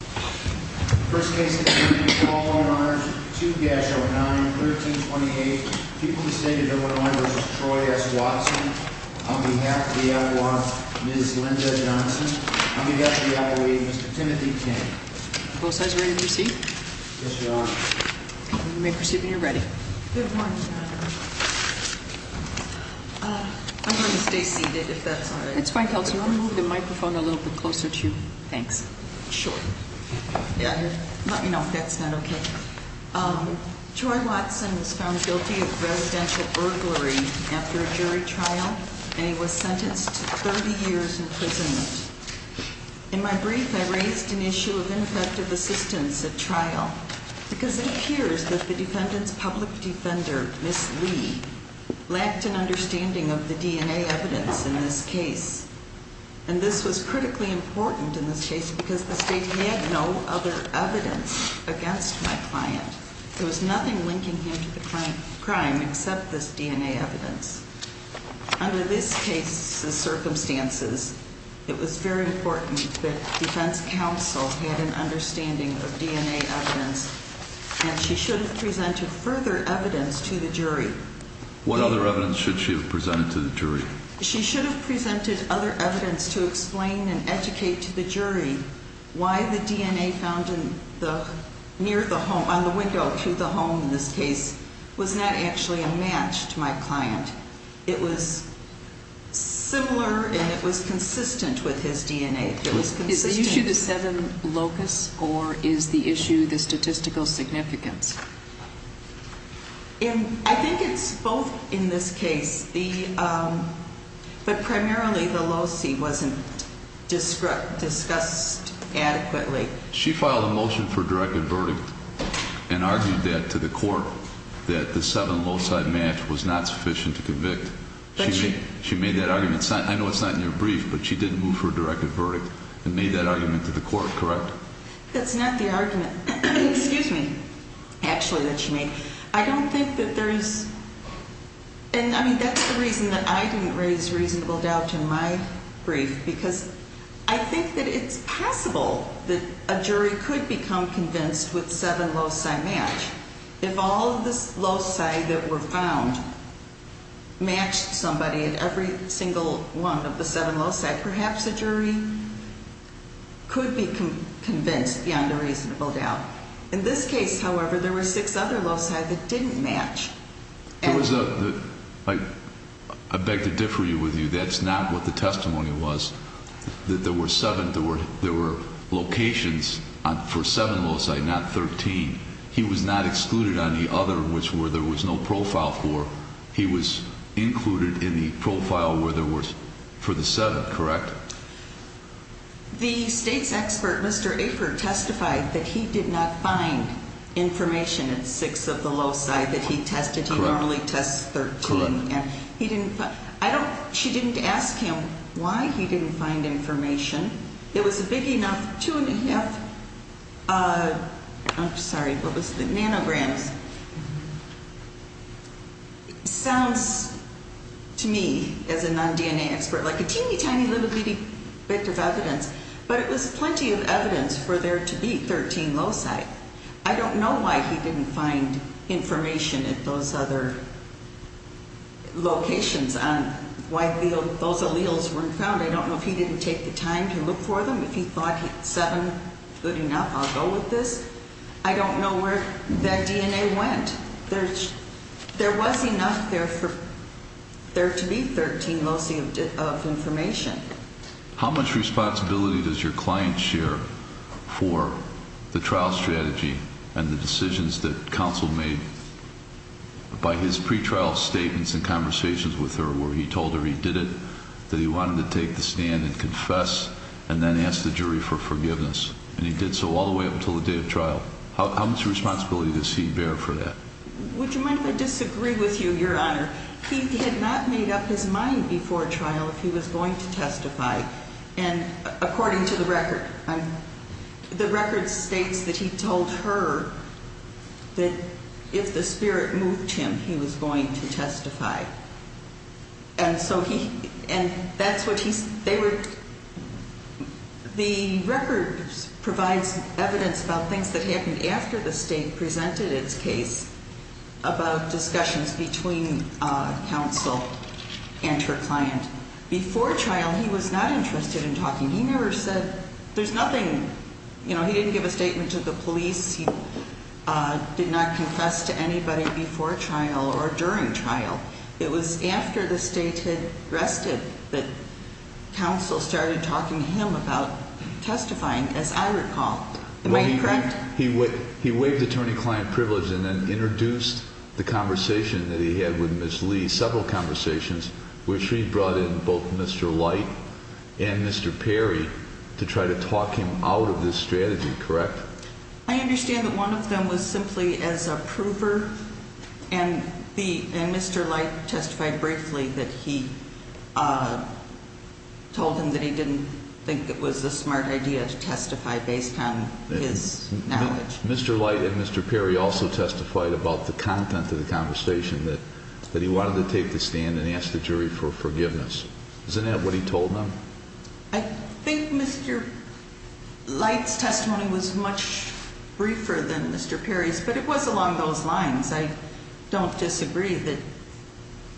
I'm going to stay seated if that's all right, that's fine, Kelsey. I'll move the microphone a little bit closer to you. Thanks. Sure. Let me know if that's not okay. Troy Watson was found guilty of residential burglary after a jury trial and he was sentenced to 30 years imprisonment. In my brief I raised an issue of ineffective assistance at trial because it appears that the defendant's public defender, Miss Lee, lacked an understanding of the DNA evidence in this case. And this was critically important in this case because the state had no other evidence against my client. There was nothing linking him to the crime except this DNA evidence. Under this case's circumstances, it was very important that defense counsel had an understanding of DNA evidence and she should have presented further evidence to the jury. What other evidence should she have presented to the jury? She should have presented other evidence to explain and educate to the jury why the DNA found on the window to the home in this case was not actually a match to my client. It was similar and it was consistent with his DNA. Is the issue the seven locusts or is the issue the statistical significance? I think it's both in this case. But primarily the loci wasn't discussed adequately. She filed a motion for a directed verdict and argued that to the court that the seven loci match was not sufficient to convict. She made that argument. I know it's not in your brief, but she did move for a directed verdict and made that argument to the court, correct? That's not the argument. Excuse me. Actually that she made. I don't think that there is. And I mean that's the reason that I didn't raise reasonable doubt in my brief because I think that it's possible that a jury could become convinced with seven loci match. If all of this loci that were found matched somebody at every single one of the seven loci, perhaps a jury could be convinced beyond a reasonable doubt. In this case, however, there were six other loci that didn't match. I beg to differ with you. That's not what the testimony was, that there were seven. There were locations for seven loci, not 13. He was not excluded on the other, which were there was no profile for. He was included in the profile where there was for the seven, correct? The state's expert, Mr. Aper, testified that he did not find information in six of the loci that he tested. He normally tests 13. He didn't. I don't. She didn't ask him why he didn't find information. It was a big enough, two and a half nanograms. Sounds to me as a non-DNA expert like a teeny tiny little bit of evidence, but it was plenty of evidence for there to be 13 loci. I don't know why he didn't find information at those other locations on why those alleles weren't found. I don't know if he didn't take the time to look for them. If he thought seven, good enough, I'll go with this. I don't know where that DNA went. There was enough there for there to be 13 loci of information. How much responsibility does your client share for the trial strategy and the decisions that counsel made by his pretrial statements and conversations with her, where he told her he did it, that he wanted to take the stand and confess, and then ask the jury for forgiveness? And he did so all the way up until the day of trial. How much responsibility does he bear for that? Would you mind if I disagree with you, Your Honor? He had not made up his mind before trial if he was going to testify. And according to the record, the record states that he told her that if the spirit moved him, he was going to testify. And so he ñ and that's what he ñ they were ñ the record provides evidence about things that happened after the state presented its case about discussions between counsel and her client. Before trial, he was not interested in talking. He never said ñ there's nothing ñ you know, he didn't give a statement to the police. He did not confess to anybody before trial or during trial. It was after the state had rested that counsel started talking to him about testifying, as I recall. Am I correct? He waived attorney-client privilege and then introduced the conversation that he had with Ms. Lee, several conversations, which he brought in both Mr. Light and Mr. Perry to try to talk him out of this strategy, correct? I understand that one of them was simply as a prover. And Mr. Light testified briefly that he told him that he didn't think it was a smart idea to testify based on his knowledge. Mr. Light and Mr. Perry also testified about the content of the conversation, that he wanted to take the stand and ask the jury for forgiveness. Isn't that what he told them? I think Mr. Light's testimony was much briefer than Mr. Perry's, but it was along those lines. I don't disagree that ñ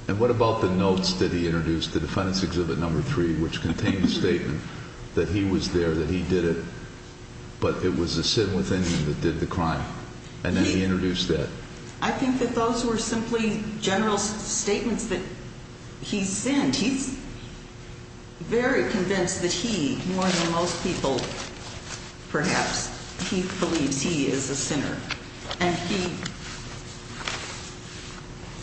And what about the notes that he introduced, the defendants' exhibit number three, which contained the statement that he was there, that he did it, but it was a sin within him that did the crime? And then he introduced that. I think that those were simply general statements that he sinned. And he's very convinced that he, more than most people perhaps, he believes he is a sinner. And he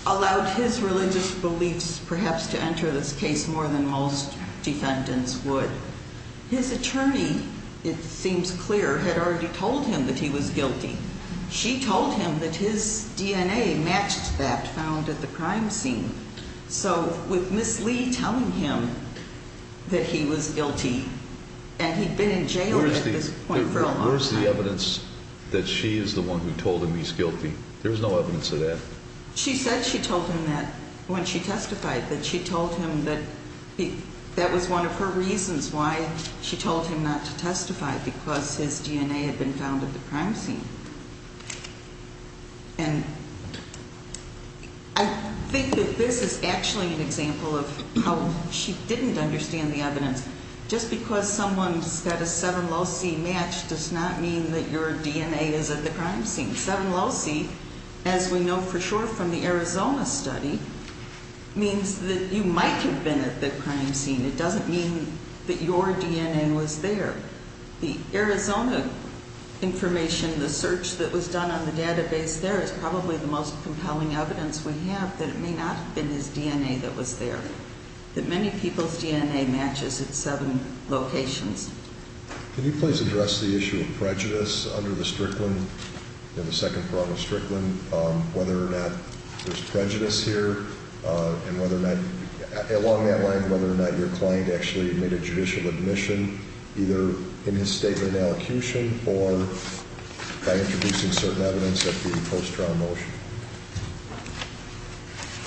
allowed his religious beliefs perhaps to enter this case more than most defendants would. His attorney, it seems clear, had already told him that he was guilty. She told him that his DNA matched that found at the crime scene. So with Ms. Lee telling him that he was guilty, and he'd been in jail at this point for a long time. Where's the evidence that she is the one who told him he's guilty? There's no evidence of that. She said she told him that when she testified, that she told him that that was one of her reasons why she told him not to testify, because his DNA had been found at the crime scene. And I think that this is actually an example of how she didn't understand the evidence. Just because someone's got a seven low C match does not mean that your DNA is at the crime scene. Seven low C, as we know for sure from the Arizona study, means that you might have been at the crime scene. It doesn't mean that your DNA was there. The Arizona information, the search that was done on the database there, is probably the most compelling evidence we have that it may not have been his DNA that was there. That many people's DNA matches at seven locations. Can you please address the issue of prejudice under the Strickland, in the second prong of Strickland, whether or not there's prejudice here, and whether or not, along that line, whether or not your client actually admitted judicial admission, either in his statement of allecution, or by introducing certain evidence at the post-trial motion?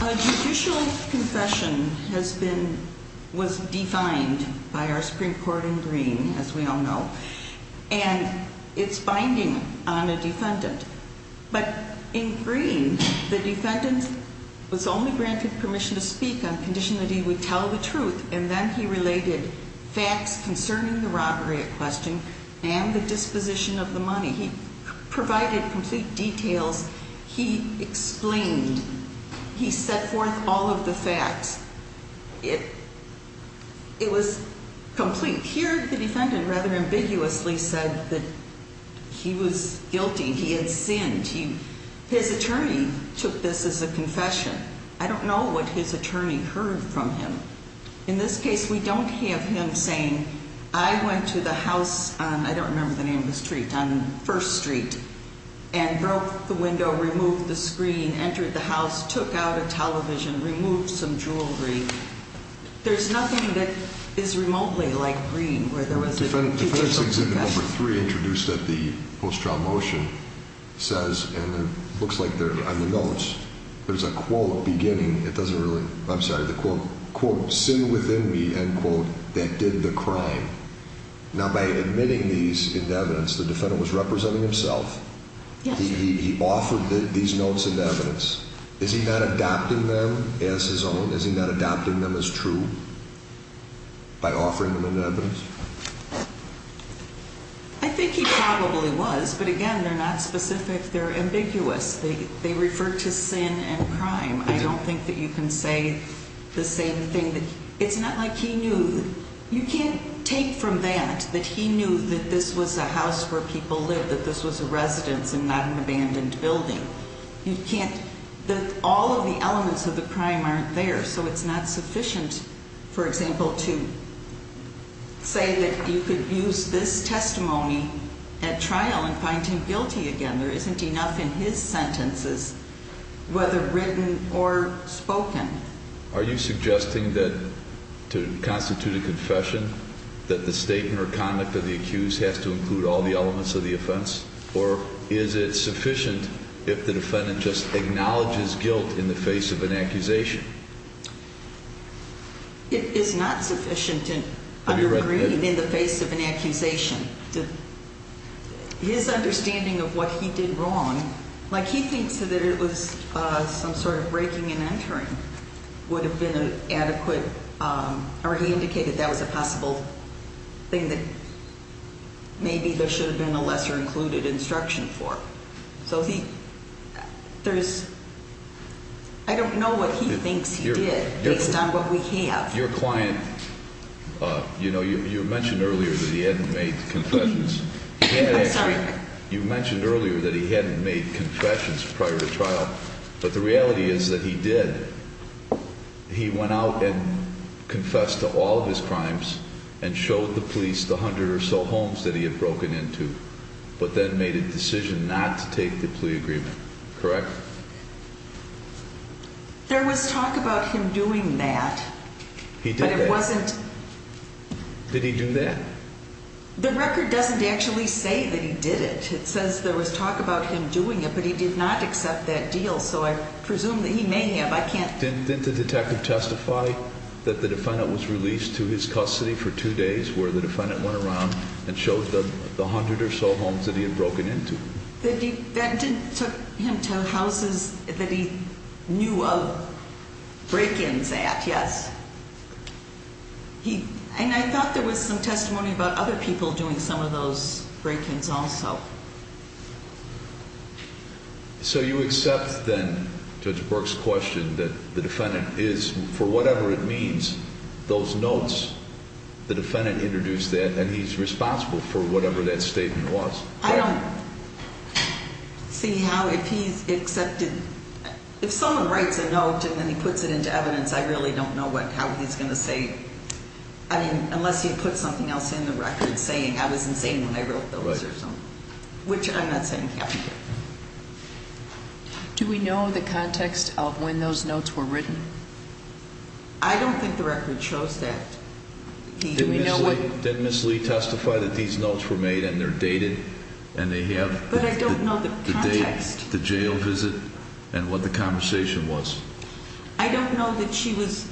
A judicial confession has been, was defined by our Supreme Court in Green, as we all know, But in Green, the defendant was only granted permission to speak on condition that he would tell the truth, and then he related facts concerning the robbery at question and the disposition of the money. He provided complete details. He explained. He set forth all of the facts. It was complete. Here, the defendant rather ambiguously said that he was guilty. He had sinned. His attorney took this as a confession. I don't know what his attorney heard from him. In this case, we don't have him saying, I went to the house on, I don't remember the name of the street, on First Street, and broke the window, removed the screen, entered the house, took out a television, removed some jewelry. There's nothing that is remotely like Green, where there was a judicial confession. Defendant 163, introduced at the post-trial motion, says, and it looks like they're on the notes, there's a quote beginning, it doesn't really, I'm sorry, the quote, quote, Sin within me, end quote, that did the crime. Now, by admitting these in evidence, the defendant was representing himself. He offered these notes in evidence. Is he not adopting them as his own? By offering them in evidence? I think he probably was, but again, they're not specific. They're ambiguous. They refer to sin and crime. I don't think that you can say the same thing. It's not like he knew. You can't take from that that he knew that this was a house where people lived, that this was a residence and not an abandoned building. All of the elements of the crime aren't there, so it's not sufficient, for example, to say that you could use this testimony at trial and find him guilty again. There isn't enough in his sentences, whether written or spoken. Are you suggesting that to constitute a confession, that the statement or conduct of the accused has to include all the elements of the offense? Or is it sufficient if the defendant just acknowledges guilt in the face of an accusation? It is not sufficient in the face of an accusation. His understanding of what he did wrong, like he thinks that it was some sort of breaking and entering, would have been adequate, or he indicated that was a possible thing that maybe there should have been a lesser-included instruction for. I don't know what he thinks he did, based on what we have. Your client, you mentioned earlier that he hadn't made confessions prior to trial, but the reality is that he did. He went out and confessed to all of his crimes and showed the police the hundred or so homes that he had broken into, but then made a decision not to take the plea agreement, correct? There was talk about him doing that. He did that? But it wasn't... Did he do that? The record doesn't actually say that he did it. It says there was talk about him doing it, but he did not accept that deal, so I presume that he may have. I can't... Didn't the detective testify that the defendant was released to his custody for two days where the defendant went around and showed the hundred or so homes that he had broken into? The defendant took him to houses that he knew of break-ins at, yes. And I thought there was some testimony about other people doing some of those break-ins also. So you accept then Judge Burke's question that the defendant is, for whatever it means, those notes, the defendant introduced that, and he's responsible for whatever that statement was. I don't see how if he's accepted... If someone writes a note and then he puts it into evidence, I really don't know how he's going to say... I mean, unless he puts something else in the record saying, I was insane when I wrote those or something, which I'm not saying can't be true. Do we know the context of when those notes were written? I don't think the record shows that. Did Ms. Lee testify that these notes were made and they're dated and they have... But I don't know the context. ...the date, the jail visit, and what the conversation was. I don't know that she was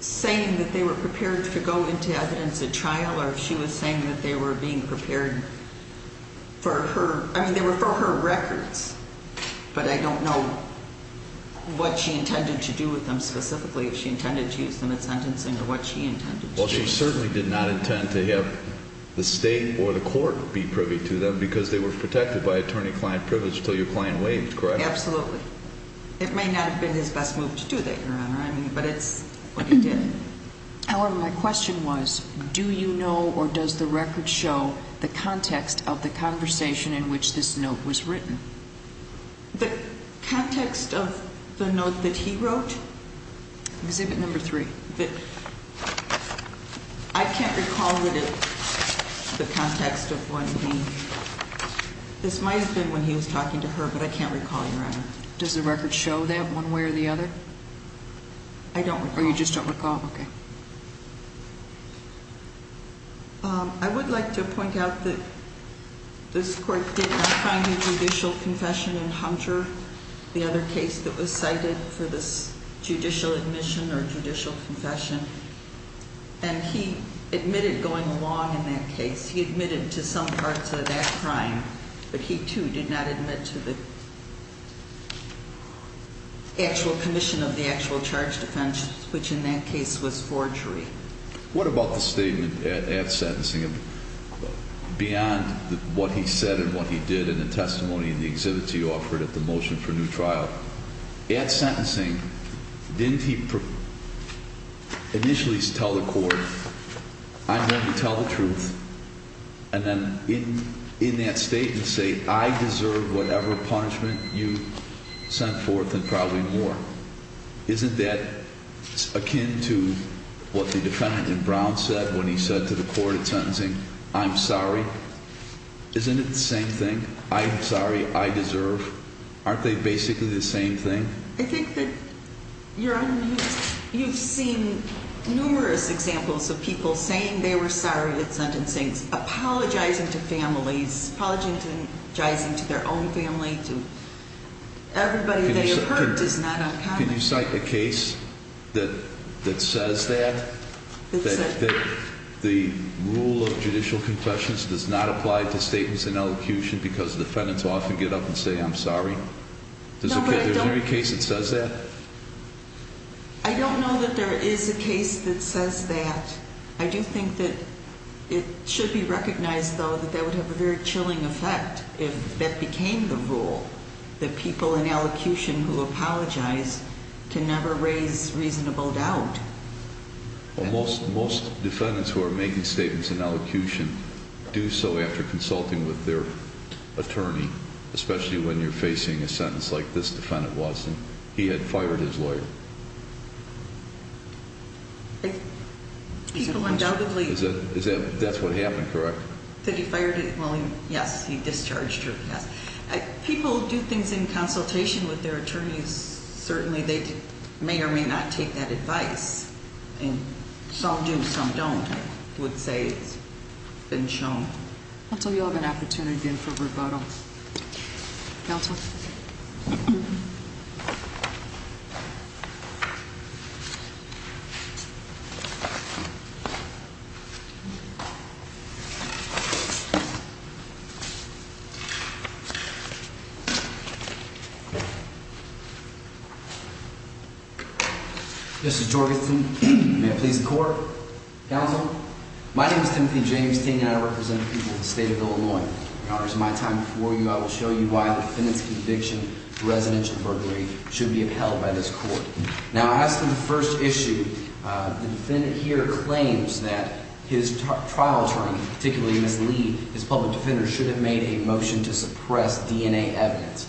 saying that they were prepared to go into evidence at trial or if she was saying that they were being prepared for her... I mean, they were for her records, but I don't know what she intended to do with them specifically, if she intended to use them in sentencing or what she intended to do. Well, she certainly did not intend to have the state or the court be privy to them because they were protected by attorney-client privilege until your client waived, correct? Absolutely. It may not have been his best move to do that, Your Honor, but it's what he did. However, my question was, do you know or does the record show the context of the conversation in which this note was written? The context of the note that he wrote? Exhibit number 3. I can't recall the context of when he... This might have been when he was talking to her, but I can't recall, Your Honor. Does the record show that one way or the other? I don't recall. You just don't recall? Okay. I would like to point out that this court did not find a judicial confession in Hunter, the other case that was cited for this judicial admission or judicial confession, and he admitted going along in that case. He admitted to some parts of that crime, but he, too, did not admit to the actual commission of the actual charged offense, which in that case was forgery. What about the statement at sentencing? Beyond what he said and what he did in the testimony and the exhibits he offered at the motion for new trial, at sentencing, didn't he initially tell the court, I'm going to tell the truth, and then in that statement say, I deserve whatever punishment you sent forth and probably more? Isn't that akin to what the defendant in Brown said when he said to the court at sentencing, I'm sorry? Isn't it the same thing? I'm sorry, I deserve. Aren't they basically the same thing? I think that you're on mute. You've seen numerous examples of people saying they were sorry at sentencing, apologizing to families, apologizing to their own family, to everybody they have hurt is not uncommon. Can you cite a case that says that, that the rule of judicial confessions does not apply to statements in elocution because defendants often get up and say, I'm sorry? Is there any case that says that? I don't know that there is a case that says that. I do think that it should be recognized, though, that that would have a very chilling effect if that became the rule, that people in elocution who apologize can never raise reasonable doubt. Most defendants who are making statements in elocution do so after consulting with their attorney, especially when you're facing a sentence like this, Defendant Watson. He had fired his lawyer. People undoubtedly- That's what happened, correct? Did he fire him? Well, yes, he discharged her, yes. People do things in consultation with their attorneys. Certainly they may or may not take that advice. Some do, some don't. I would say it's been shown. I'll tell you I'll have an opportunity again for rebuttal. Counsel? Mr. Jorgensen, may I please the court? Counsel? My name is Timothy Jamestine, and I represent the people of the state of Illinois. In honor of my time before you, I will show you why the defendant's conviction for residential burglary should be upheld by this court. Now, as to the first issue, the defendant here claims that his trial attorney, particularly Ms. Lee, his public defender, should have made a motion to suppress DNA evidence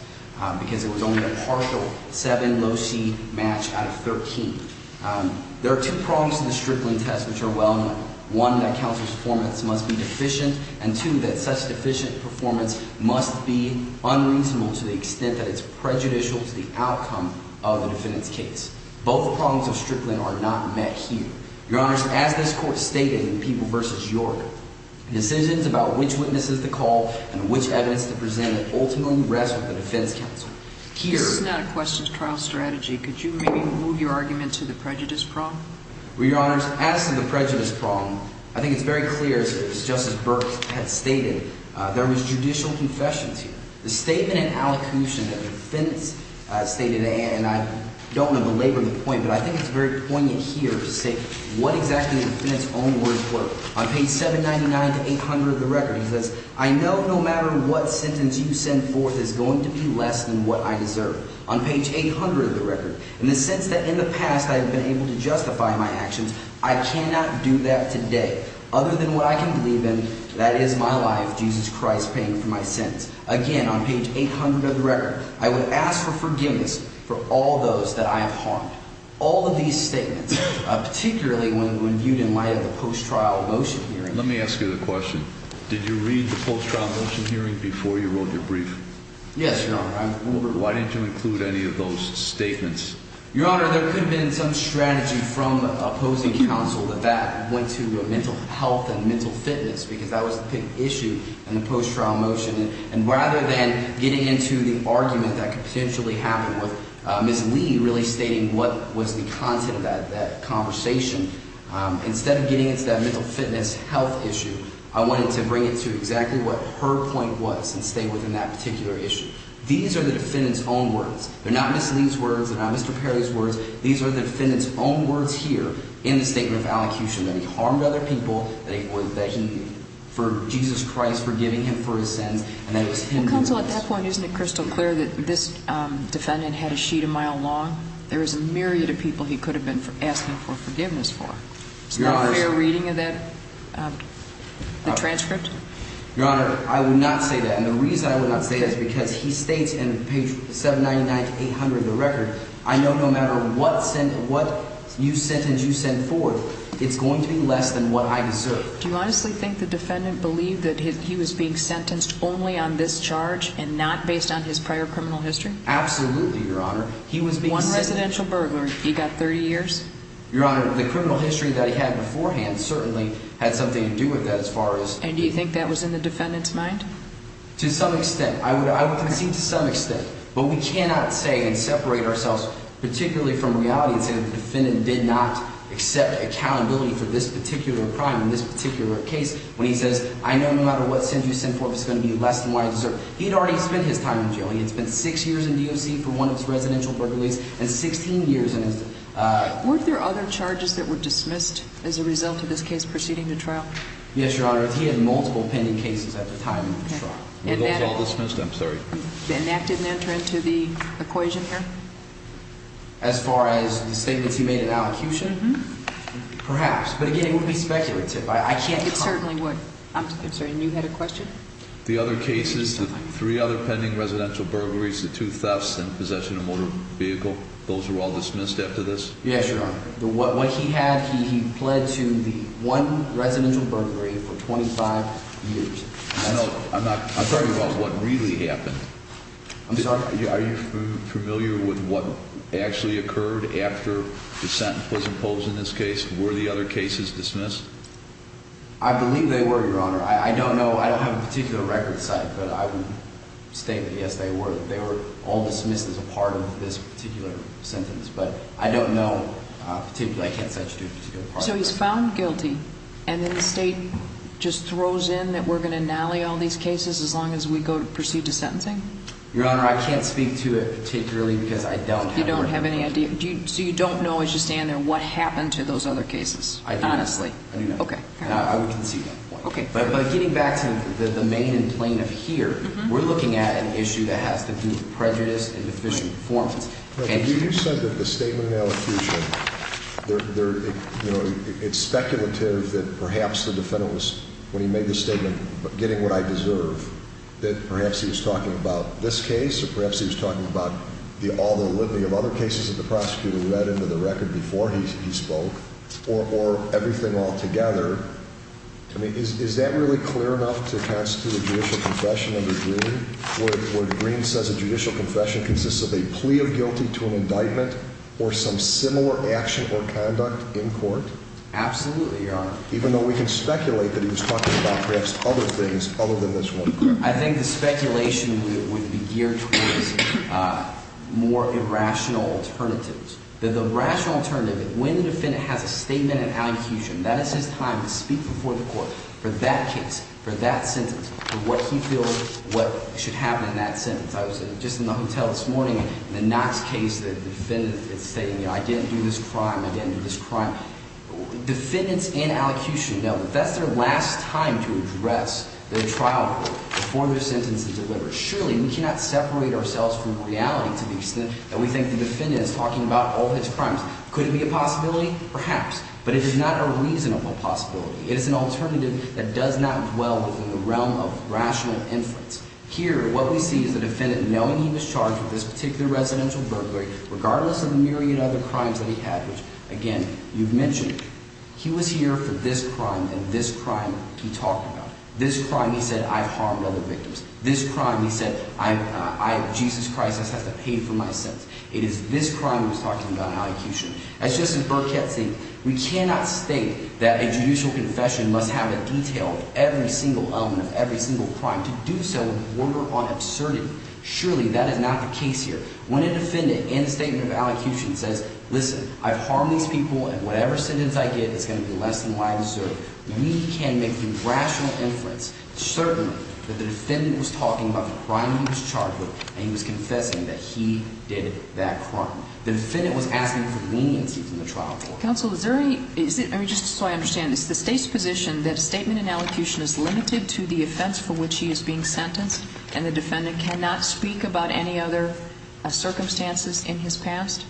because it was only a partial 7 low-C match out of 13. There are two prongs to the Strickland test which are well known. One, that counsel's performance must be deficient, and two, that such deficient performance must be unreasonable to the extent that it's prejudicial to the outcome of the defendant's case. Both prongs of Strickland are not met here. Your Honors, as this court stated in People v. Jorgensen, decisions about which witnesses to call and which evidence to present ultimately rest with the defense counsel. Keith, this is not a questions trial strategy. Could you maybe move your argument to the prejudice prong? Well, Your Honors, as to the prejudice prong, I think it's very clear, as Justice Burke has stated, there was judicial confessions here. The statement in allocution that the defendant stated, and I don't want to belabor the point, but I think it's very poignant here to say what exactly the defendant's own words were. On page 799 to 800 of the record, he says, I know no matter what sentence you send forth is going to be less than what I deserve. On page 800 of the record, in the sense that in the past I have been able to justify my actions, I cannot do that today other than what I can believe in, and that is my life, Jesus Christ paying for my sins. Again, on page 800 of the record, I would ask for forgiveness for all those that I have harmed. All of these statements, particularly when viewed in light of the post-trial motion hearing. Let me ask you the question. Did you read the post-trial motion hearing before you wrote your brief? Yes, Your Honor. Why didn't you include any of those statements? Your Honor, there could have been some strategy from opposing counsel that that went to mental health and mental fitness because that was the big issue in the post-trial motion. And rather than getting into the argument that could potentially happen with Ms. Lee really stating what was the content of that conversation, instead of getting into that mental fitness health issue, I wanted to bring it to exactly what her point was and stay within that particular issue. These are the defendant's own words. They're not Ms. Lee's words. These are the defendant's own words here in the statement of allocution that he harmed other people, that he – for Jesus Christ forgiving him for his sins, and that it was him who did this. Counsel, at that point, isn't it crystal clear that this defendant had a sheet a mile long? There was a myriad of people he could have been asking for forgiveness for. Your Honor – Is that a fair reading of that – the transcript? Your Honor, I would not say that. And the reason I would not say that is because he states in page 799 to 800 of the record, I know no matter what sentence – what sentence you send forth, it's going to be less than what I deserve. Do you honestly think the defendant believed that he was being sentenced only on this charge and not based on his prior criminal history? Absolutely, Your Honor. He was being – One residential burglary. He got 30 years? Your Honor, the criminal history that he had beforehand certainly had something to do with that as far as – And do you think that was in the defendant's mind? To some extent. I would concede to some extent. But we cannot say and separate ourselves particularly from reality and say that the defendant did not accept accountability for this particular crime in this particular case when he says, I know no matter what sentence you send forth, it's going to be less than what I deserve. He had already spent his time in jail. He had spent six years in DOC for one of his residential burglaries and 16 years in his – Weren't there other charges that were dismissed as a result of this case proceeding to trial? Yes, Your Honor. He had multiple pending cases at the time of the trial. Were those all dismissed? I'm sorry. And that didn't enter into the equation here? As far as the statements he made in allocution? Mm-hmm. Perhaps. But again, it would be speculative. I can't – It certainly would. I'm sorry. And you had a question? The other cases, the three other pending residential burglaries, the two thefts in possession of a motor vehicle, those were all dismissed after this? Yes, Your Honor. What he had, he pled to the one residential burglary for 25 years. I'm talking about what really happened. I'm sorry? Are you familiar with what actually occurred after the sentence was imposed in this case? Were the other cases dismissed? I believe they were, Your Honor. I don't know. I don't have a particular record site, but I would state that, yes, they were. They were all dismissed as a part of this particular sentence. But I don't know, particularly, I can't cite you to a particular part of it. So he's found guilty, and then the State just throws in that we're going to nally all these cases as long as we go to proceed to sentencing? Your Honor, I can't speak to it particularly because I don't have a record. You don't have any idea? So you don't know as you stand there what happened to those other cases, honestly? I do not. Okay. I would concede that point. Okay. But getting back to the main and plaintiff here, we're looking at an issue that has to do with prejudice and deficient performance. You said that the statement in elocution, it's speculative that perhaps the defendant was, when he made the statement, getting what I deserve, that perhaps he was talking about this case or perhaps he was talking about all the litany of other cases that the prosecutor read into the record before he spoke or everything altogether. I mean, is that really clear enough to constitute a judicial confession under Greene? Would Greene says a judicial confession consists of a plea of guilty to an indictment or some similar action or conduct in court? Absolutely, Your Honor. Even though we can speculate that he was talking about perhaps other things other than this one. I think the speculation would be geared towards more irrational alternatives. The rational alternative, when the defendant has a statement in elocution, that is his time to speak before the court for that case, for that sentence, for what he feels what should happen in that sentence. I was just in the hotel this morning in the Knox case. The defendant is saying, you know, I didn't do this crime, I didn't do this crime. Defendants in elocution know that that's their last time to address their trial court before their sentence is delivered. Surely, we cannot separate ourselves from reality to the extent that we think the defendant is talking about all his crimes. Could it be a possibility? Perhaps. But it is not a reasonable possibility. It is an alternative that does not dwell within the realm of rational inference. Here, what we see is the defendant knowing he was charged with this particular residential burglary, regardless of the myriad of other crimes that he had, which, again, you've mentioned. He was here for this crime and this crime he talked about. This crime he said, I've harmed other victims. This crime he said, Jesus Christ has to pay for my sentence. It is this crime he was talking about in elocution. As Justice Burkett said, we cannot state that a judicial confession must have a detail of every single element of every single crime to do so in order on absurdity. Surely, that is not the case here. When a defendant in a statement of elocution says, listen, I've harmed these people, and whatever sentence I get is going to be less than why I was served, we can make through rational inference, certainly, that the defendant was talking about the crime he was charged with, and he was confessing that he did that crime. The defendant was asking for leniency from the trial court. Counsel, is there any – I mean, just so I understand, is the State's position that a statement in elocution is limited to the offense for which he is being sentenced, and the defendant cannot speak about any other circumstances in his past?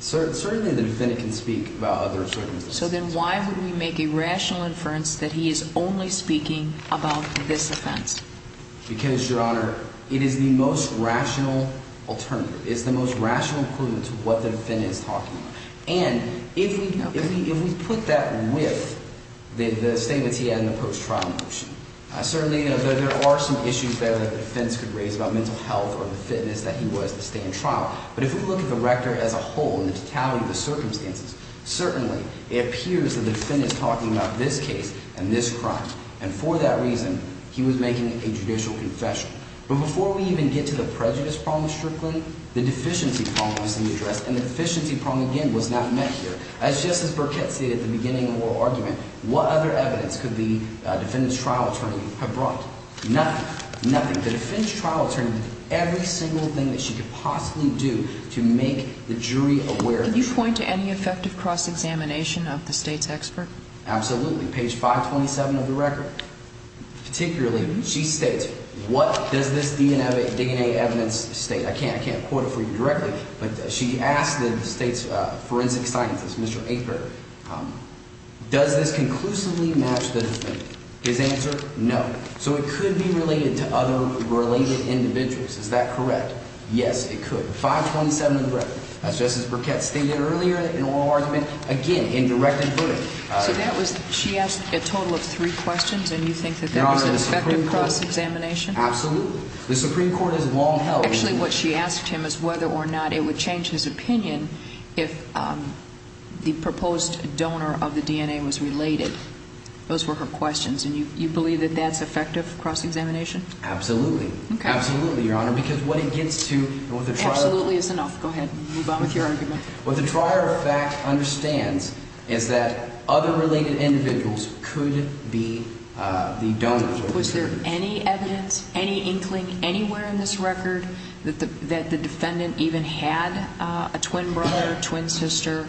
Certainly, the defendant can speak about other circumstances. So then why would we make a rational inference that he is only speaking about this offense? Because, Your Honor, it is the most rational alternative. It's the most rational equivalent to what the defendant is talking about. And if we put that with the statements he had in the post-trial motion, certainly there are some issues there that the defense could raise about mental health or the fitness that he was to stay in trial. But if we look at the record as a whole and the totality of the circumstances, certainly it appears the defendant is talking about this case and this crime. And for that reason, he was making a judicial confession. But before we even get to the prejudice problem strictly, the deficiency problem is to be addressed. And the deficiency problem, again, was not met here. As Justice Burkett stated at the beginning of the oral argument, what other evidence could the defendant's trial attorney have brought? Nothing, nothing. The defendant's trial attorney did every single thing that she could possibly do to make the jury aware of the truth. Can you point to any effective cross-examination of the State's expert? Absolutely. Page 527 of the record. Particularly, she states, what does this DNA evidence state? I can't quote it for you directly, but she asked the State's forensic scientist, Mr. Aper, does this conclusively match the defendant? His answer, no. So it could be related to other related individuals. Is that correct? Yes, it could. 527 of the record. As Justice Burkett stated earlier in oral argument, again, in directed footing. So that was – she asked a total of three questions, and you think that that was an effective cross-examination? Absolutely. The Supreme Court has long held – Actually, what she asked him is whether or not it would change his opinion if the proposed donor of the DNA was related. Those were her questions. And you believe that that's effective cross-examination? Absolutely. Okay. Absolutely, Your Honor, because what it gets to – Absolutely is enough. Go ahead. Move on with your argument. What the trier of fact understands is that other related individuals could be the donors. Was there any evidence, any inkling anywhere in this record that the defendant even had a twin brother or twin sister?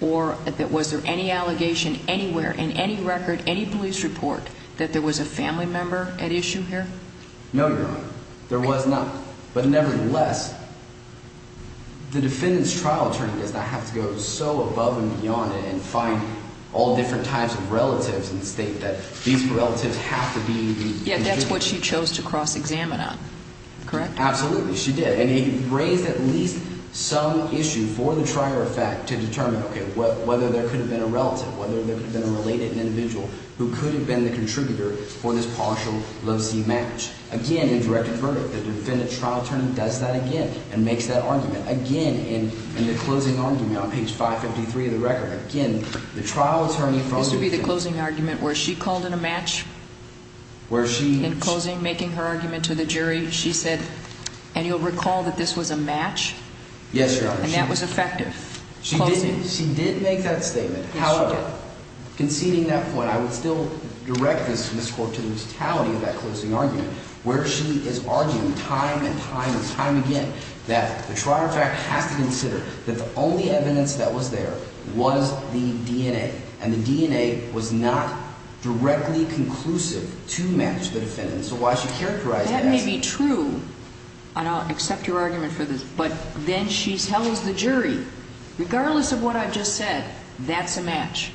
Or was there any allegation anywhere in any record, any police report, that there was a family member at issue here? No, Your Honor. There was not. But nevertheless, the defendant's trial attorney does not have to go so above and beyond it and find all different types of relatives and state that these relatives have to be the – Yet that's what she chose to cross-examine on. Correct? Absolutely. She did. And he raised at least some issue for the trier of fact to determine, okay, whether there could have been a relative, whether there could have been a related individual who could have been the contributor for this partial love-see match. Again, a directed verdict. The defendant's trial attorney does that again and makes that argument. Again, in the closing argument on page 553 of the record, again, the trial attorney – This would be the closing argument where she called it a match? Where she – In closing, making her argument to the jury, she said, and you'll recall that this was a match? Yes, Your Honor. And that was effective? She did make that statement. Yes, she did. But conceding that point, I would still direct this, Ms. Cork, to the totality of that closing argument where she is arguing time and time and time again that the trier of fact has to consider that the only evidence that was there was the DNA, and the DNA was not directly conclusive to match the defendant. So while she characterized it as – And I'll accept your argument for this, but then she tells the jury, regardless of what I've just said, that's a match.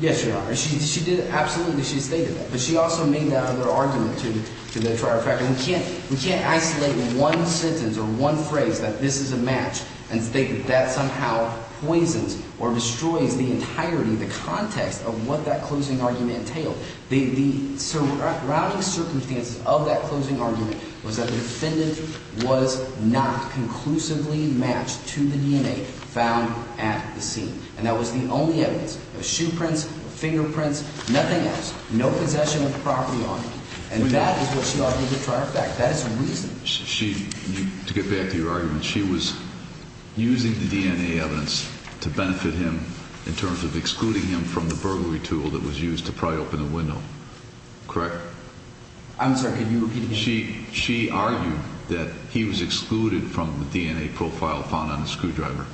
Yes, Your Honor. She did – absolutely she stated that. But she also made that other argument to the trier of fact. We can't isolate one sentence or one phrase that this is a match and state that that somehow poisons or destroys the entirety, the context of what that closing argument entailed. The surrounding circumstances of that closing argument was that the defendant was not conclusively matched to the DNA found at the scene. And that was the only evidence. There were shoe prints, fingerprints, nothing else. No possession of property on him. And that is what she argued with trier of fact. That is a reason. To get back to your argument, she was using the DNA evidence to benefit him in terms of excluding him from the burglary tool that was used to pry open the window, correct? I'm sorry. Can you repeat again? She argued that he was excluded from the DNA profile found on the screwdriver.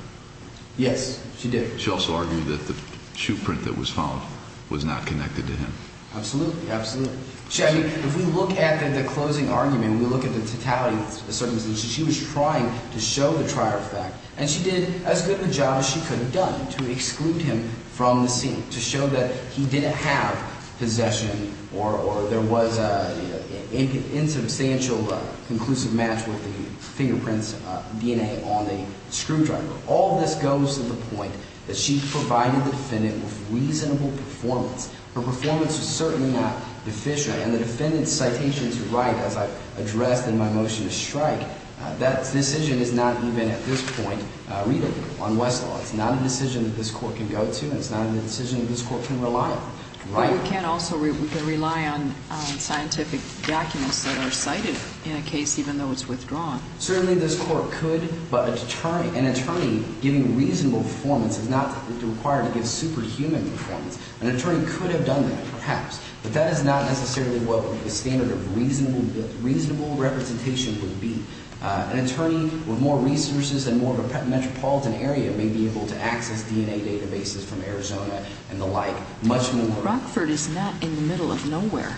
Yes, she did. She also argued that the shoe print that was found was not connected to him. Absolutely, absolutely. I mean if we look at the closing argument and we look at the totality of the circumstances, she was trying to show the trier of fact. And she did as good of a job as she could have done to exclude him from the scene, to show that he didn't have possession or there was an insubstantial but conclusive match with the fingerprints, DNA on the screwdriver. All of this goes to the point that she provided the defendant with reasonable performance. Her performance was certainly not deficient. And the defendant's citation is right as I addressed in my motion to strike. That decision is not even at this point readable on Westlaw. It's not a decision that this court can go to and it's not a decision that this court can rely on. But we can't also – we can rely on scientific documents that are cited in a case even though it's withdrawn. Certainly this court could, but an attorney giving reasonable performance is not required to give superhuman performance. An attorney could have done that perhaps, but that is not necessarily what the standard of reasonable representation would be. An attorney with more resources and more of a metropolitan area may be able to access DNA databases from Arizona and the like much more. Rockford is not in the middle of nowhere.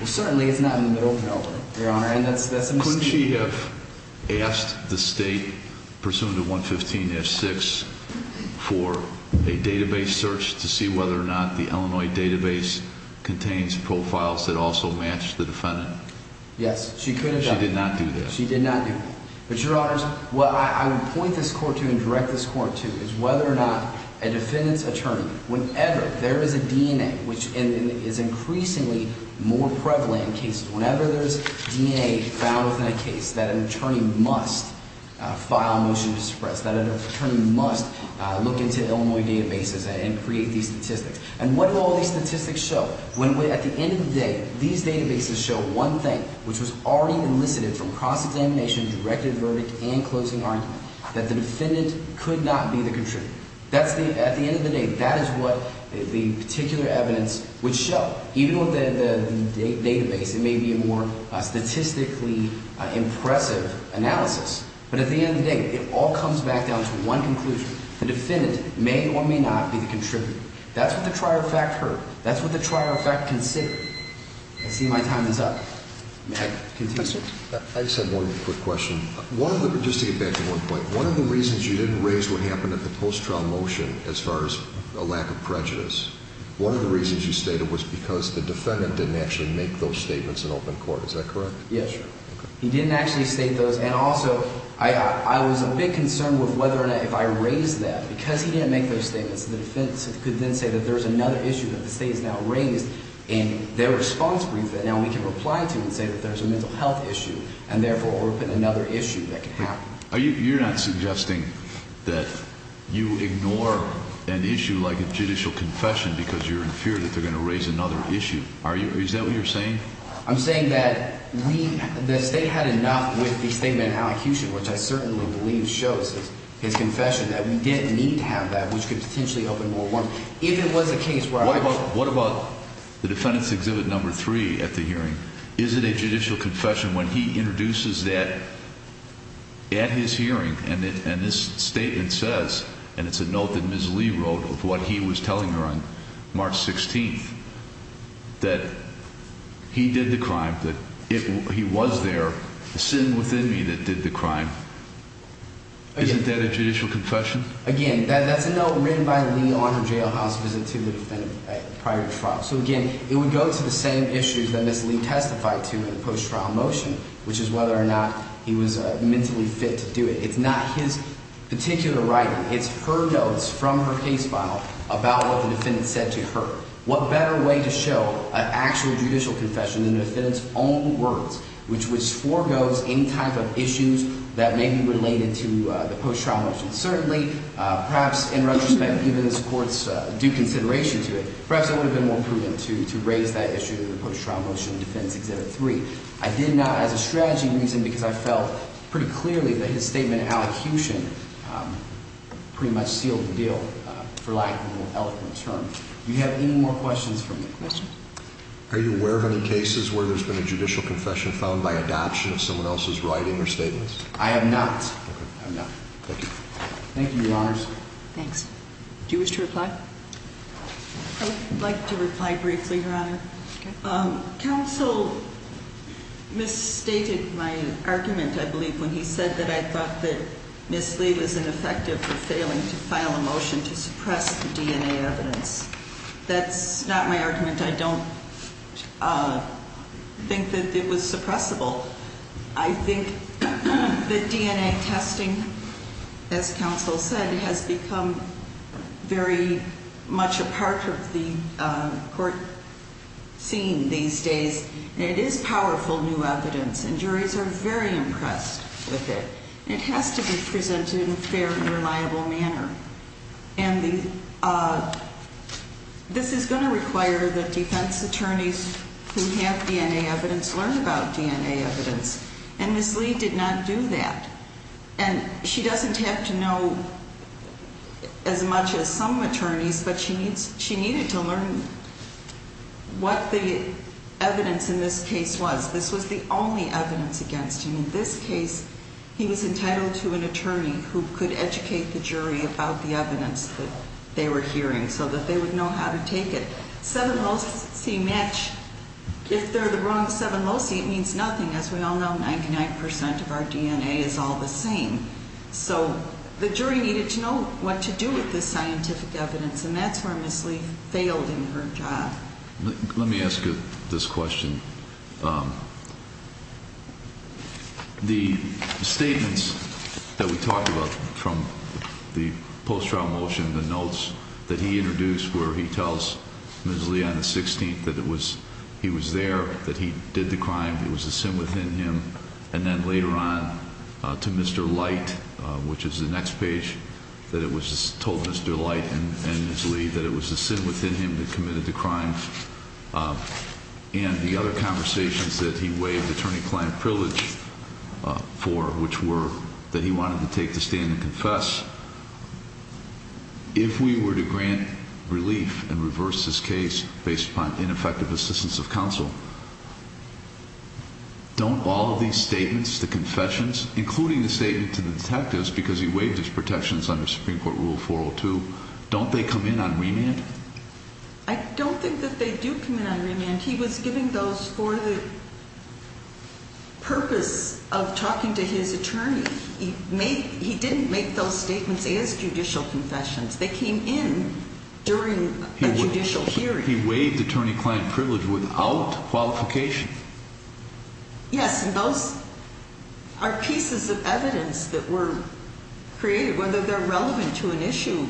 Well, certainly it's not in the middle of nowhere, Your Honor, and that's a mistake. Would she have asked the state, pursuant to 115-6, for a database search to see whether or not the Illinois database contains profiles that also match the defendant? Yes, she could have. She did not do that. She did not do that. But, Your Honors, what I would point this court to and direct this court to is whether or not a defendant's attorney, whenever there is a DNA, which is increasingly more prevalent in cases. Whenever there's DNA found within a case that an attorney must file a motion to suppress, that an attorney must look into Illinois databases and create these statistics. And what do all these statistics show? At the end of the day, these databases show one thing, which was already elicited from cross-examination, directed verdict, and closing argument, that the defendant could not be the contributor. That's the – at the end of the day, that is what the particular evidence would show. Even with the database, it may be a more statistically impressive analysis. But at the end of the day, it all comes back down to one conclusion. The defendant may or may not be the contributor. That's what the trier of fact heard. That's what the trier of fact considered. I see my time is up. May I continue, sir? I just have one quick question. One of the – just to get back to one point. One of the reasons you didn't raise what happened at the post-trial motion as far as a lack of prejudice, one of the reasons you stated was because the defendant didn't actually make those statements in open court. Is that correct? Yes. He didn't actually state those. And also, I was a bit concerned with whether or not if I raised that. Because he didn't make those statements, the defense could then say that there's another issue that the State has now raised in their response brief that now we can reply to and say that there's a mental health issue and, therefore, we're putting another issue that could happen. You're not suggesting that you ignore an issue like a judicial confession because you're in fear that they're going to raise another issue, are you? Is that what you're saying? I'm saying that we – the State had enough with the statement in allocution, which I certainly believe shows his confession, that we didn't need to have that, which could potentially open more warrants. If it was a case where I was – What about the defendant's exhibit number three at the hearing? Is it a judicial confession when he introduces that at his hearing and this statement says – and it's a note that Ms. Lee wrote of what he was telling her on March 16th – that he did the crime, that he was there, the sin within me that did the crime. Again – Isn't that a judicial confession? Again, that's a note written by Lee on her jailhouse visit to the defendant prior to the trial. So, again, it would go to the same issues that Ms. Lee testified to in the post-trial motion, which is whether or not he was mentally fit to do it. It's not his particular writing. It's her notes from her case file about what the defendant said to her. What better way to show an actual judicial confession than the defendant's own words, which foregoes any type of issues that may be related to the post-trial motion? Certainly, perhaps in retrospect, even as courts do consideration to it, perhaps I would have been more proven to raise that issue in the post-trial motion in Defendant's Exhibit 3. I did not as a strategy reason because I felt pretty clearly that his statement in allocution pretty much sealed the deal for lack of a more eloquent term. Do you have any more questions from me? Are you aware of any cases where there's been a judicial confession found by adoption of someone else's writing or statements? I have not. Okay. I have not. Thank you. Thank you, Your Honors. Thanks. Do you wish to reply? I would like to reply briefly, Your Honor. Counsel misstated my argument, I believe, when he said that I thought that Ms. Lee was ineffective for failing to file a motion to suppress the DNA evidence. That's not my argument. I don't think that it was suppressible. I think that DNA testing, as counsel said, has become very much a part of the court scene these days, and it is powerful new evidence, and juries are very impressed with it. It has to be presented in a fair and reliable manner. And this is going to require that defense attorneys who have DNA evidence learn about DNA evidence, and Ms. Lee did not do that. And she doesn't have to know as much as some attorneys, but she needed to learn what the evidence in this case was. This was the only evidence against him. In this case, he was entitled to an attorney who could educate the jury about the evidence that they were hearing so that they would know how to take it. Seven low C match, if they're the wrong seven low C, it means nothing. As we all know, 99% of our DNA is all the same. So the jury needed to know what to do with this scientific evidence, and that's where Ms. Lee failed in her job. Let me ask you this question. The statements that we talked about from the post-trial motion, the notes that he introduced, where he tells Ms. Lee on the 16th that he was there, that he did the crime, it was a sin within him. And then later on to Mr. Light, which is the next page, that it was told Mr. Light and Ms. Lee that it was a sin within him that committed the crime. And the other conversations that he waived attorney-client privilege for, which were that he wanted to take the stand and confess. If we were to grant relief and reverse this case based upon ineffective assistance of counsel, don't all of these statements, the confessions, including the statement to the detectives, because he waived his protections under Supreme Court Rule 402, don't they come in on remand? I don't think that they do come in on remand. He was giving those for the purpose of talking to his attorney. He didn't make those statements as judicial confessions. They came in during a judicial hearing. He waived attorney-client privilege without qualification. Yes, and those are pieces of evidence that were created, whether they're relevant to an issue.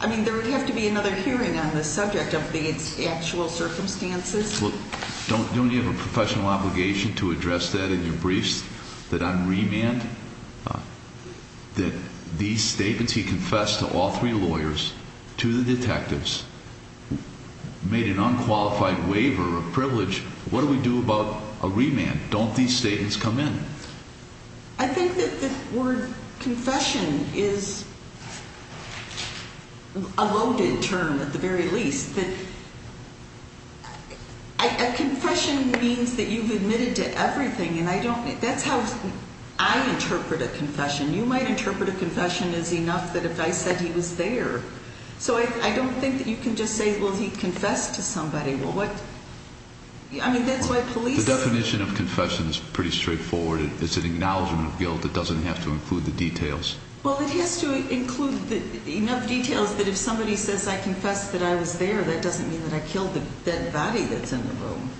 I mean, there would have to be another hearing on the subject of the actual circumstances. Well, don't you have a professional obligation to address that in your briefs, that on remand, that these statements he confessed to all three lawyers, to the detectives, made an unqualified waiver of privilege? What do we do about a remand? Don't these statements come in? I think that the word confession is a loaded term, at the very least. A confession means that you've admitted to everything. That's how I interpret a confession. You might interpret a confession as enough that if I said he was there. So I don't think that you can just say, well, he confessed to somebody. I mean, that's why police are— The definition of confession is pretty straightforward. It's an acknowledgment of guilt that doesn't have to include the details. Well, it has to include enough details that if somebody says, I confess that I was there, that doesn't mean that I killed the dead body that's in the room.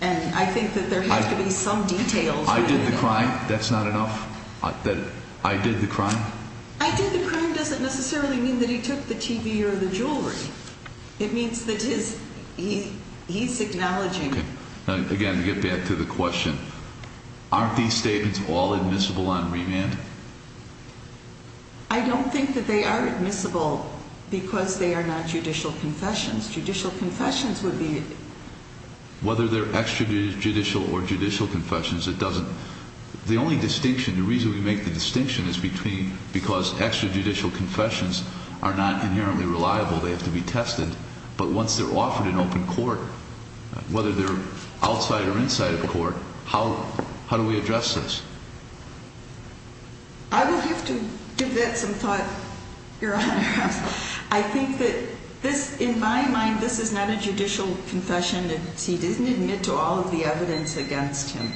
And I think that there has to be some details. I did the crime. That's not enough? That I did the crime? I did the crime doesn't necessarily mean that he took the TV or the jewelry. It means that he's acknowledging— Again, to get back to the question, aren't these statements all admissible on remand? I don't think that they are admissible because they are not judicial confessions. Judicial confessions would be— Whether they're extrajudicial or judicial confessions, it doesn't— The only distinction, the reason we make the distinction is because extrajudicial confessions are not inherently reliable. They have to be tested. But once they're offered in open court, whether they're outside or inside of court, how do we address this? I will have to give that some thought, Your Honor. I think that this, in my mind, this is not a judicial confession. He didn't admit to all of the evidence against him.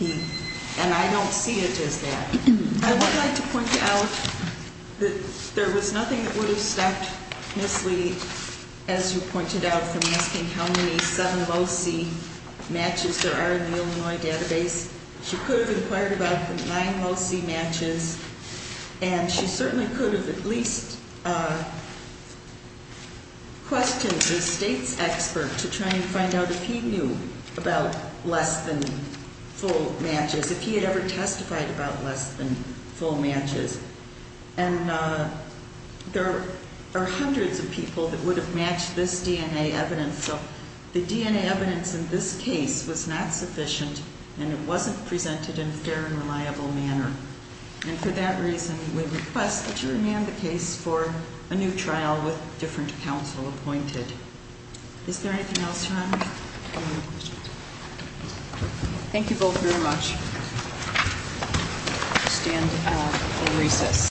And I don't see it as that. I would like to point out that there was nothing that would have stopped Ms. Lee, as you pointed out, from asking how many sudden low-C matches there are in the Illinois database. She could have inquired about the nine low-C matches. And she certainly could have at least questioned the state's expert to try and find out if he knew about less than full matches, if he had ever testified about less than full matches. And there are hundreds of people that would have matched this DNA evidence. And so the DNA evidence in this case was not sufficient, and it wasn't presented in a fair and reliable manner. And for that reason, we request that you remand the case for a new trial with different counsel appointed. Is there anything else, Your Honor? Any other questions? Thank you both very much. We'll stand at recess.